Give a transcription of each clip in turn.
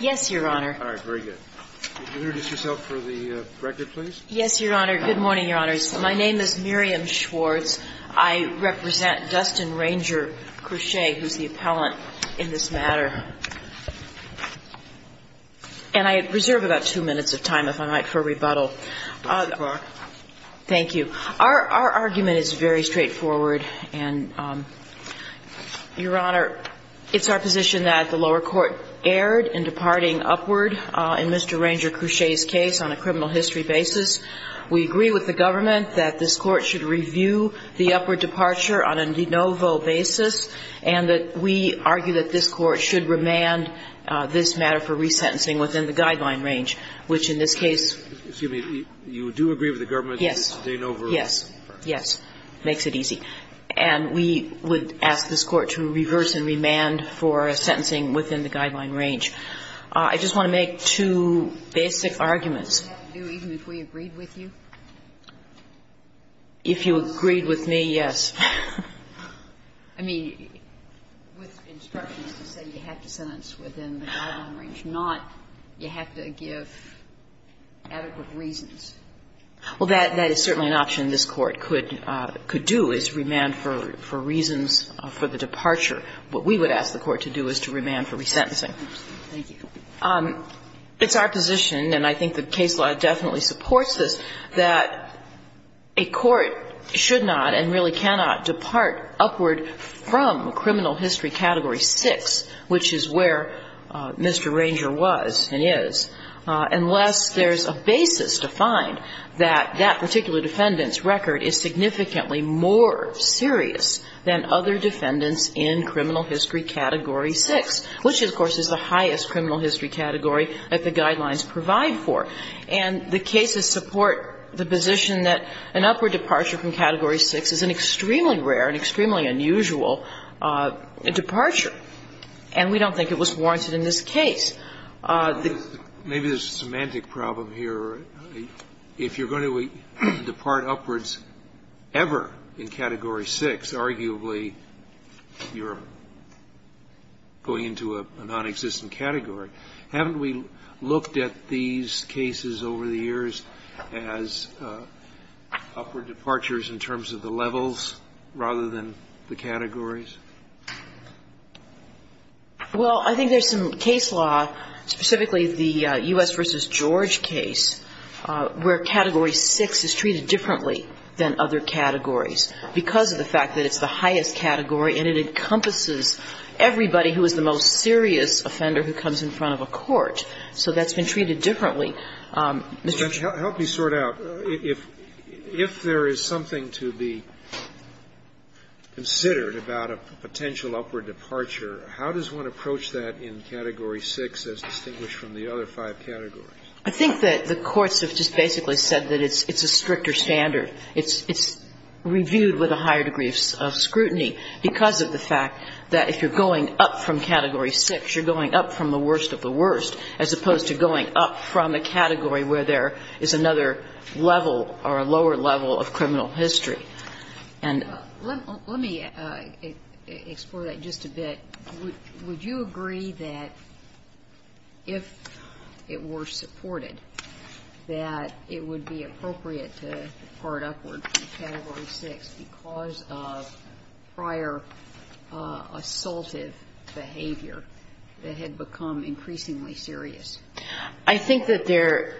Yes, Your Honor. Good morning, Your Honors. My name is Miriam Schwartz. I represent Dustin Ranger-Crouchet, who is the appellant in this matter. And I reserve about two minutes of time, if I might, for rebuttal. Thank you. Our argument is very straightforward, and, Your Honor, it's our position that the lower court erred in departing upward in Mr. Ranger-Crouchet's case on a criminal history basis. We agree with the government that this Court should review the upward departure on a de novo basis, and that we argue that this Court should remand this matter for resentencing within the guideline range, which, in this case — Excuse me. You do agree with the government that it's a de novo? Yes. Yes. Yes. Makes it easy. And we would ask this Court to reverse and remand for a sentencing within the guideline range. I just want to make two basic arguments. Even if we agreed with you? If you agreed with me, yes. I mean, with instructions that say you have to sentence within the guideline range, not you have to give adequate reasons. Well, that is certainly an option this Court could do, is remand for reasons for the departure. What we would ask the Court to do is to remand for resentencing. Thank you. It's our position, and I think the case law definitely supports this, that a court should not and really cannot depart upward from criminal history Category 6, which is where Mr. Ranger was and is, unless there's a basis to find that that particular defendant's record is significantly more serious than other defendants in criminal history Category 6, which, of course, is the highest criminal history category that the guidelines provide for. And the cases support the position that an upward departure from Category 6 is an extremely rare and extremely unusual departure. And we don't think it was warranted in this case. Maybe there's a semantic problem here. If you're going to depart upwards ever in Category 6, arguably you're going into a nonexistent category. Haven't we looked at these cases over the years as upward departures in terms of the levels rather than the categories? Well, I think there's some case law, specifically the U.S. v. George case, where Category 6 is treated differently than other categories because of the fact that it's the highest category and it encompasses everybody who is the most serious offender who comes in front of a court. So that's been treated differently. Mr. Churchill. Help me sort out. If there is something to be considered about a potential upward departure, how does one approach that in Category 6 as distinguished from the other five categories? I think that the courts have just basically said that it's a stricter standard. It's reviewed with a higher degree of scrutiny because of the fact that if you're going up from Category 6, you're going up from the worst of the worst, as opposed to going up from a category where there is another level or a lower level of criminal history. And ---- that it would be appropriate to depart upward from Category 6 because of prior assaultive behavior that had become increasingly serious. I think that there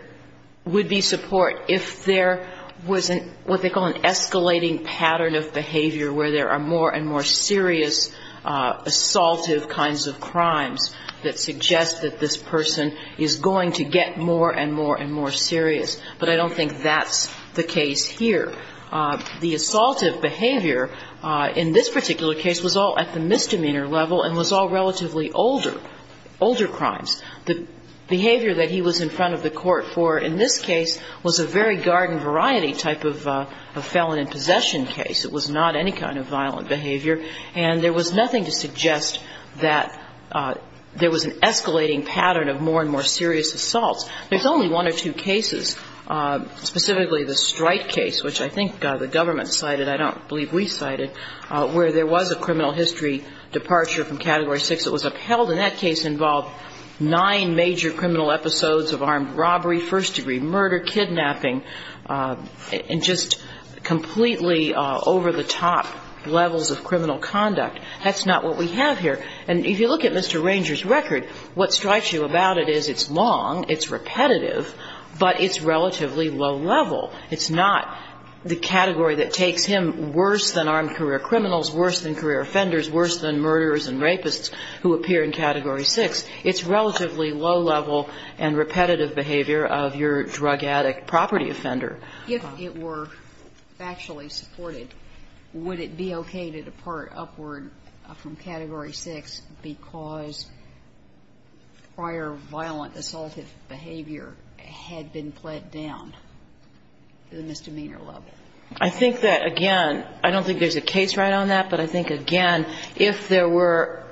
would be support if there was what they call an escalating pattern of behavior where there are more and more serious assaultive kinds of crimes that suggest that this person is going to get more and more and more serious. But I don't think that's the case here. The assaultive behavior in this particular case was all at the misdemeanor level and was all relatively older, older crimes. The behavior that he was in front of the court for in this case was a very garden variety type of felon in possession case. It was not any kind of violent behavior. And there was nothing to suggest that there was an escalating pattern of more and more serious assaults. There's only one or two cases, specifically the Strike case, which I think the government cited, I don't believe we cited, where there was a criminal history departure from Category 6 that was upheld. And that case involved nine major criminal episodes of armed robbery, first of all, second of all, third of all, and fourth of all. And if you look at Mr. Ranger's record, what strikes you about it is it's long, it's repetitive, but it's relatively low level. It's not the category that takes him worse than armed career criminals, worse than career offenders, worse than murderers and rapists who appear in Category 6. It's relatively low level and repetitive behavior of your drug addict property offender. Sotomayor, if it were factually supported, would it be okay to depart upward from Category 6 because prior violent assaultive behavior had been put down, the misdemeanor level? I think that, again, I don't think there's a case right on that, but I think, again, if there were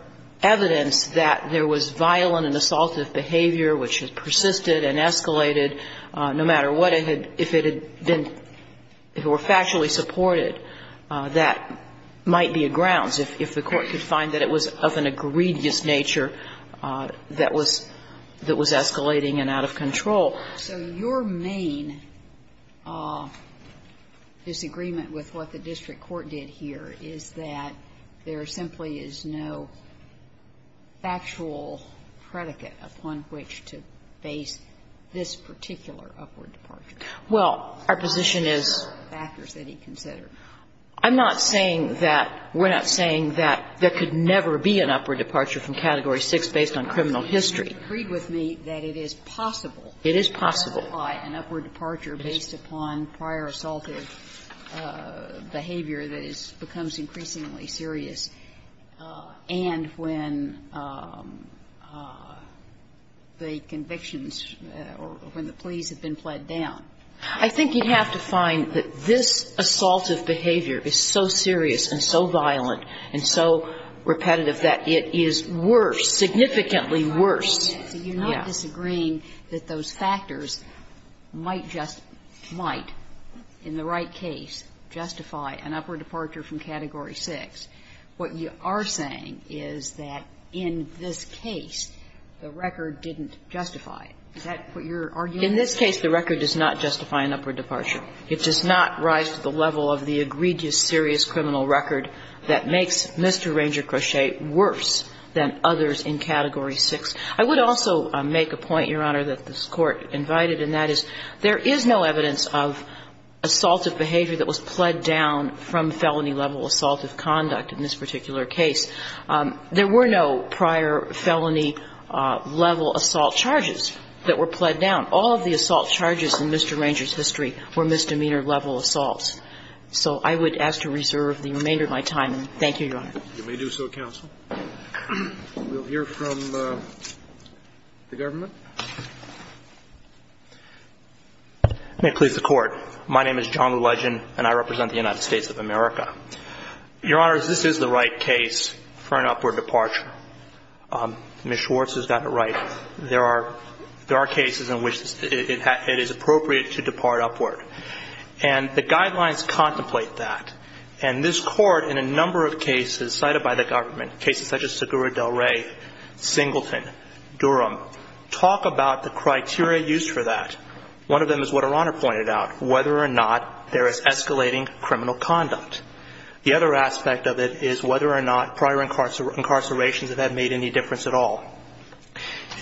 evidence that there was violent and assaultive behavior which had persisted and escalated, no matter what it had, if it had been, if it were factually supported, that might be a grounds, if the Court could find that it was of an egregious nature that was escalating and out of control. So your main disagreement with what the district court did here is that there simply is no factual predicate upon which to base this particular upward departure. Well, our position is we're not saying that there could never be an upward departure from Category 6 based on criminal history. You agreed with me that it is possible to apply an upward departure based upon prior violent assaultive behavior, both when the assault is extremely serious and when the convictions or when the pleas have been pled down. I think you'd have to find that this assaultive behavior is so serious and so violent and so repetitive that it is worse, significantly worse. So you're not disagreeing that those factors might just, might in the right case justify an upward departure from Category 6. What you are saying is that in this case, the record didn't justify it. Is that what you're arguing? In this case, the record does not justify an upward departure. It does not rise to the level of the egregious, serious criminal record that makes Mr. Ranger Crochet worse than others in Category 6. I would also make a point, Your Honor, that this Court invited, and that is there is no evidence of assaultive behavior that was pled down from felony-level assaultive conduct in this particular case. There were no prior felony-level assault charges that were pled down. All of the assault charges in Mr. Ranger's history were misdemeanor-level assaults. So I would ask to reserve the remainder of my time. Thank you, Your Honor. You may do so, counsel. We'll hear from the government. May it please the Court. My name is John Legend, and I represent the United States of America. Your Honor, this is the right case for an upward departure. Ms. Schwartz has got it right. There are cases in which it is appropriate to depart upward. And the guidelines contemplate that. And this Court, in a number of cases cited by the government, cases such as Segura del Rey, Singleton, Durham, talk about the criteria used for that. One of them is what Her Honor pointed out, whether or not there is escalating criminal conduct. The other aspect of it is whether or not prior incarcerations have made any difference at all.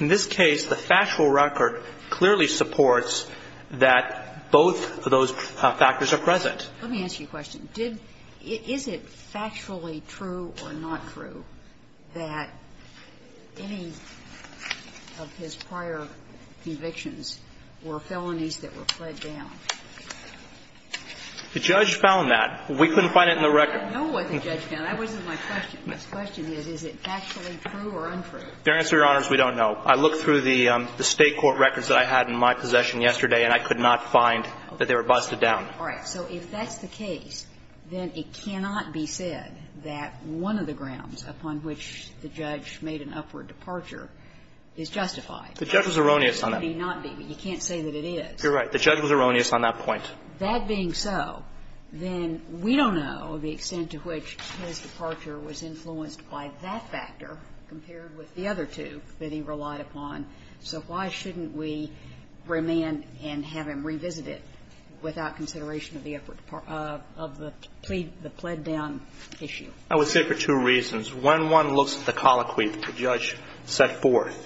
In this case, the factual record clearly supports that both of those factors are present. Let me ask you a question. Is it factually true or not true that any of his prior convictions were felonies that were pled down? The judge found that. We couldn't find it in the record. I don't know what the judge found. That wasn't my question. The question is, is it factually true or untrue? Fairness to Your Honors, we don't know. I looked through the State court records that I had in my possession yesterday and I could not find that they were busted down. All right. So if that's the case, then it cannot be said that one of the grounds upon which the judge made an upward departure is justified. The judge was erroneous on that. It may not be, but you can't say that it is. You're right. The judge was erroneous on that point. That being so, then we don't know the extent to which his departure was influenced by that factor compared with the other two that he relied upon. So why shouldn't we remand and have him revisit it without consideration of the effort of the pled down issue? I would say for two reasons. One, one looks at the colloquy the judge set forth.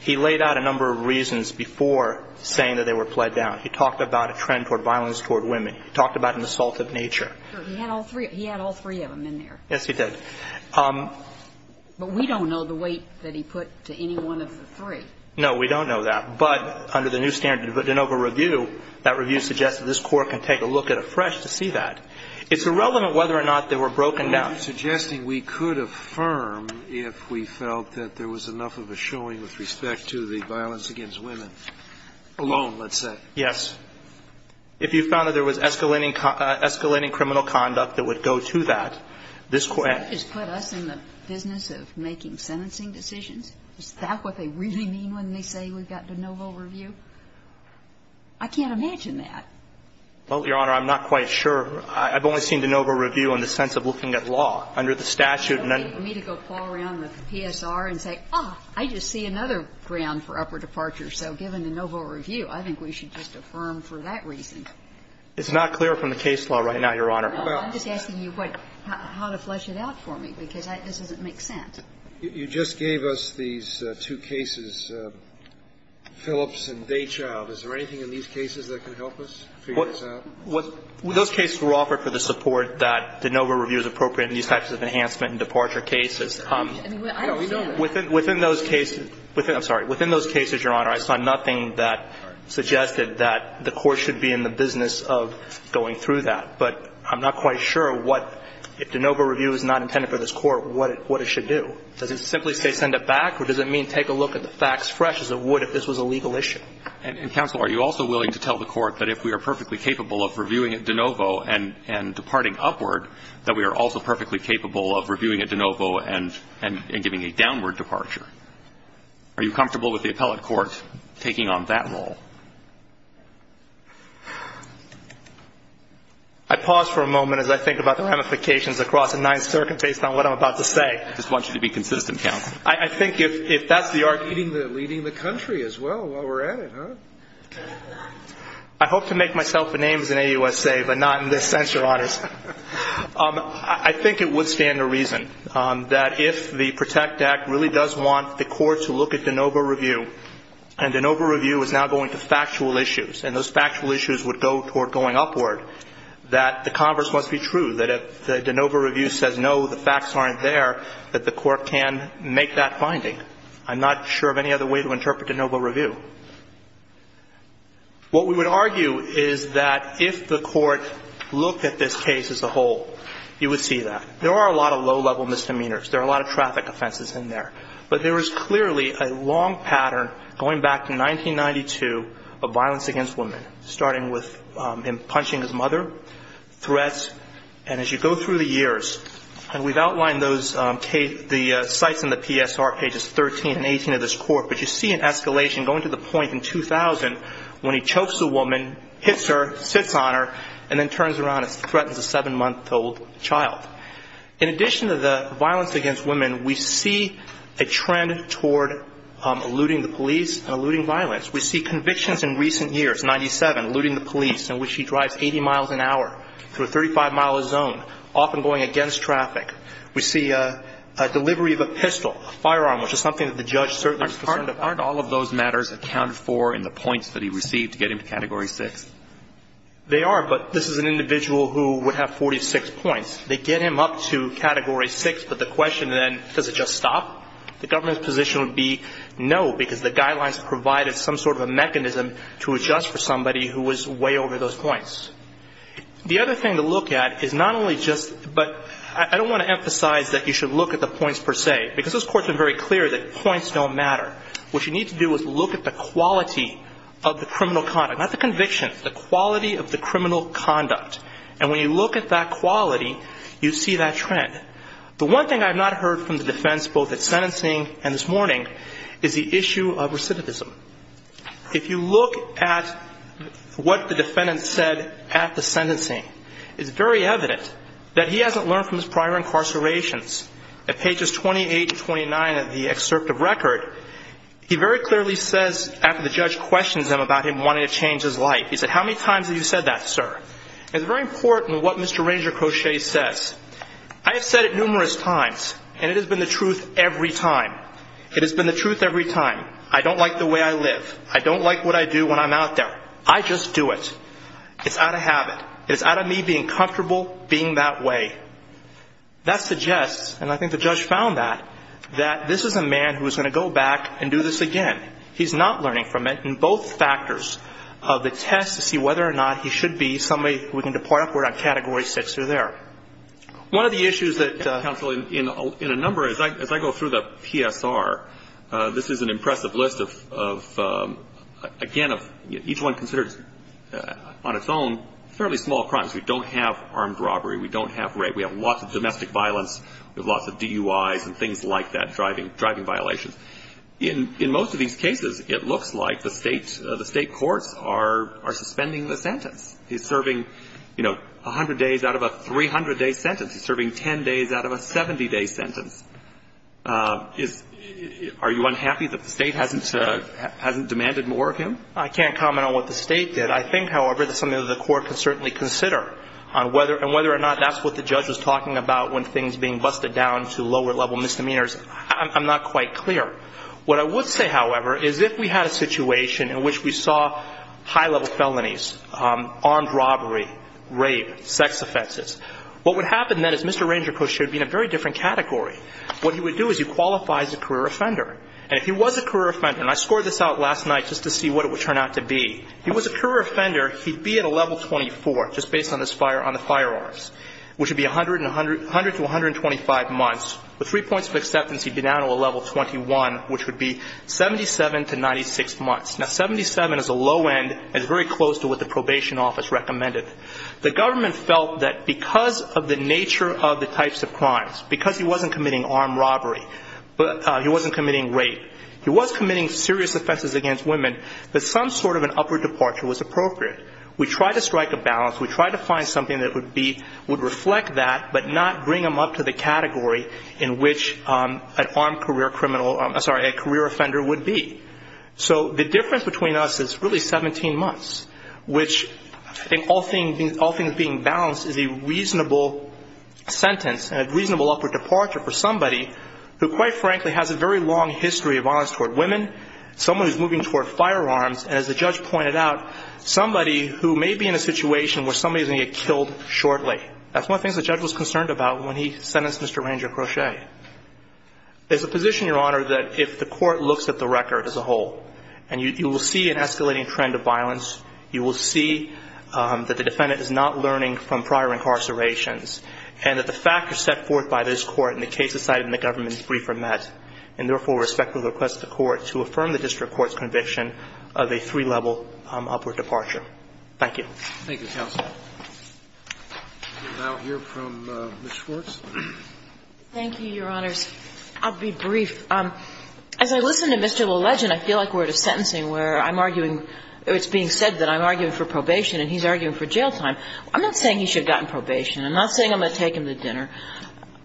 He laid out a number of reasons before saying that they were pled down. He talked about a trend toward violence toward women. He talked about an assault of nature. He had all three of them in there. Yes, he did. But we don't know the weight that he put to any one of the three. No, we don't know that. But under the new standard of de novo review, that review suggests that this Court can take a look at it fresh to see that. It's irrelevant whether or not they were broken down. Are you suggesting we could affirm if we felt that there was enough of a showing with respect to the violence against women alone, let's say? Yes. If you found that there was escalating criminal conduct that would go to that, this So you're saying that they just put us in the business of making sentencing decisions? Is that what they really mean when they say we've got de novo review? I can't imagine that. Well, Your Honor, I'm not quite sure. I've only seen de novo review in the sense of looking at law under the statute and then the other. For me to go paw around with the PSR and say, oh, I just see another ground for upper departure, so given de novo review, I think we should just affirm for that reason. It's not clear from the case law right now, Your Honor. I'm just asking you how to flesh it out for me, because this doesn't make sense. You just gave us these two cases, Phillips and Daychild. Is there anything in these cases that can help us figure this out? Those cases were offered for the support that de novo review is appropriate in these types of enhancement and departure cases. No, we don't. Within those cases, I'm sorry, within those cases, Your Honor, I saw nothing that suggested that the Court should be in the business of going through that. But I'm not quite sure what, if de novo review is not intended for this Court, what it should do. Does it simply say send it back, or does it mean take a look at the facts fresh as it would if this was a legal issue? And, counsel, are you also willing to tell the Court that if we are perfectly capable of reviewing at de novo and departing upward, that we are also perfectly capable of reviewing at de novo and giving a downward departure? Are you comfortable with the appellate court taking on that role? I pause for a moment as I think about the ramifications across the Ninth Circuit based on what I'm about to say. I just want you to be consistent, counsel. I think if that's the argument. Leading the country as well while we're at it, huh? I hope to make myself a names in AUSA, but not in this sense, Your Honors. I think it would stand to reason that if the PROTECT Act really does want the Court to look at de novo review, and de novo review is now going to factual issues, and those factual issues would go toward going upward, that the converse must be true, that if the de novo review says, no, the facts aren't there, that the Court can make that finding. I'm not sure of any other way to interpret de novo review. What we would argue is that if the Court looked at this case as a whole, you would see that. There are a lot of low-level misdemeanors. There are a lot of traffic offenses in there. But there is clearly a long pattern going back to 1992 of violence against women, starting with him punching his mother, threats, and as you go through the years, and we've outlined those, the sites in the PSR, pages 13 and 18 of this Court, but you see an escalation going to the point in 2000, when he chokes a woman, hits her, sits on her, and then turns around and threatens a seven-month-old child. In addition to the violence against women, we see a trend toward eluding the police and eluding violence. We see convictions in recent years, 97, eluding the police, in which he drives 80 miles an hour through a 35-mile zone, often going against traffic. We see a delivery of a pistol, a firearm, which is something that the judge certainly was concerned about. Aren't all of those matters accounted for in the points that he received to get him to Category 6? They are, but this is an individual who would have 46 points. They get him up to Category 6, but the question then, does it just stop? The government's position would be no, because the guidelines provided some sort of a mechanism to adjust for somebody who was way over those points. The other thing to look at is not only just, but I don't want to emphasize that you should look at the points per se, because this Court's been very clear that points don't matter. What you need to do is look at the quality of the criminal conduct, not the convictions, the quality of the criminal conduct. And when you look at that quality, you see that trend. The one thing I've not heard from the defense, both at sentencing and this morning, is the issue of recidivism. If you look at what the defendant said at the sentencing, it's very evident that he hasn't learned from his prior incarcerations. At pages 28 and 29 of the excerpt of record, he very clearly says, after the judge questions him about him wanting to change his life, he said, how many times have you said that, sir? It's very important what Mr. Ranger Crochet says. I have said it numerous times, and it has been the truth every time. It has been the truth every time. I don't like the way I live. I don't like what I do when I'm out there. I just do it. It's out of habit. It's out of me being comfortable being that way. That suggests, and I think the judge found that, that this is a man who is going to go back and do this again. He's not learning from it in both factors of the test to see whether or not he should be somebody who can depart upward on Category 6 through there. One of the issues that ---- I think through the PSR, this is an impressive list of, again, of each one considered on its own fairly small crimes. We don't have armed robbery. We don't have rape. We have lots of domestic violence. We have lots of DUIs and things like that, driving violations. In most of these cases, it looks like the State courts are suspending the sentence. He's serving, you know, 100 days out of a 300-day sentence. He's serving 10 days out of a 70-day sentence. Are you unhappy that the State hasn't demanded more of him? I can't comment on what the State did. I think, however, that something that the court can certainly consider on whether or not that's what the judge was talking about when things being busted down to lower-level misdemeanors. I'm not quite clear. What I would say, however, is if we had a situation in which we saw high-level felonies, armed robbery, rape, sex offenses, what would happen then is Mr. Ranger would be in a very different category. What he would do is he qualifies a career offender. And if he was a career offender, and I scored this out last night just to see what it would turn out to be, if he was a career offender, he'd be at a level 24, just based on the firearms, which would be 100 to 125 months. With three points of acceptance, he'd be down to a level 21, which would be 77 to 96 months. Now, 77 is a low end. It's very close to what the probation office recommended. The government felt that because of the nature of the types of crimes, because he wasn't committing armed robbery, he wasn't committing rape, he was committing serious offenses against women, that some sort of an upward departure was appropriate. We tried to strike a balance. We tried to find something that would reflect that but not bring him up to the category in which an armed career criminal or a career offender would be. So all things being balanced is a reasonable sentence and a reasonable upward departure for somebody who, quite frankly, has a very long history of violence toward women, someone who's moving toward firearms, and as the judge pointed out, somebody who may be in a situation where somebody is going to get killed shortly. That's one of the things the judge was concerned about when he sentenced Mr. Ranger Crochet. There's a position, Your Honor, that if the court looks at the record as a whole and you will see an escalating trend of violence, you will see that the defendant is not learning from prior incarcerations, and that the factors set forth by this court in the case decided in the government's briefer met, and therefore respectfully request the court to affirm the district court's conviction of a three-level upward departure. Thank you. Thank you, counsel. We'll now hear from Ms. Schwartz. Thank you, Your Honors. I'll be brief. As I listen to Mr. LaLegend, I feel like we're at a sentencing where I'm arguing or it's being said that I'm arguing for probation and he's arguing for jail time. I'm not saying he should have gotten probation. I'm not saying I'm going to take him to dinner.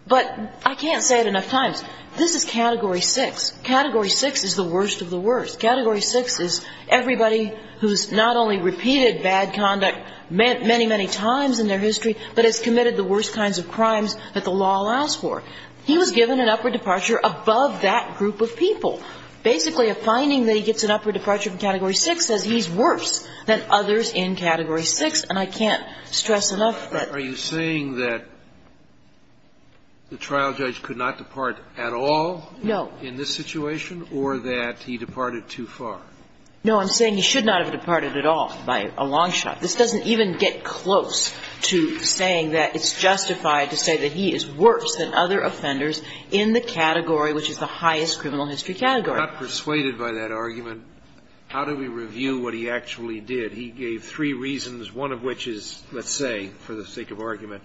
But I can't say it enough times. This is Category 6. Category 6 is the worst of the worst. Category 6 is everybody who's not only repeated bad conduct many, many times in their history, but has committed the worst kinds of crimes that the law allows for. He was given an upward departure above that group of people. Basically, a finding that he gets an upward departure from Category 6 says he's worse than others in Category 6, and I can't stress enough that. Are you saying that the trial judge could not depart at all in this situation or that he departed too far? No, I'm saying he should not have departed at all by a long shot. This doesn't even get close to saying that it's justified to say that he is worse than other offenders in the category which is the highest criminal history category. If he's not persuaded by that argument, how do we review what he actually did? He gave three reasons, one of which is, let's say, for the sake of argument,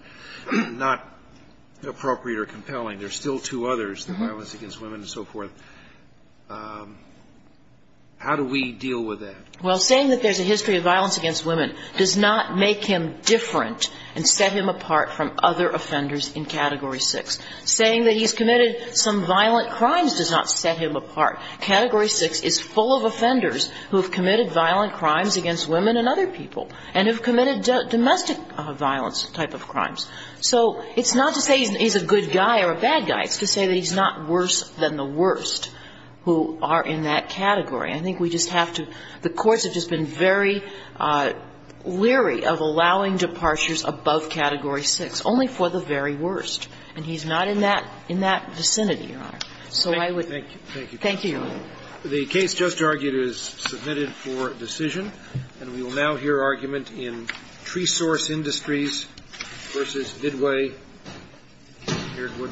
not appropriate or compelling. There are still two others, the violence against women and so forth. How do we deal with that? Well, saying that there's a history of violence against women does not make him different and set him apart from other offenders in Category 6. Saying that he's committed some violent crimes does not set him apart. Category 6 is full of offenders who have committed violent crimes against women and other people and have committed domestic violence type of crimes. So it's not to say he's a good guy or a bad guy. It's to say that he's not worse than the worst who are in that category. I think we just have to – the courts have just been very leery of allowing departures above Category 6, only for the very worst. And he's not in that vicinity, Your Honor. So I would – Thank you. Thank you. Thank you, Your Honor. The case just argued is submitted for decision. And we will now hear argument in Tresource Industries v. Didway, here at Wood Products.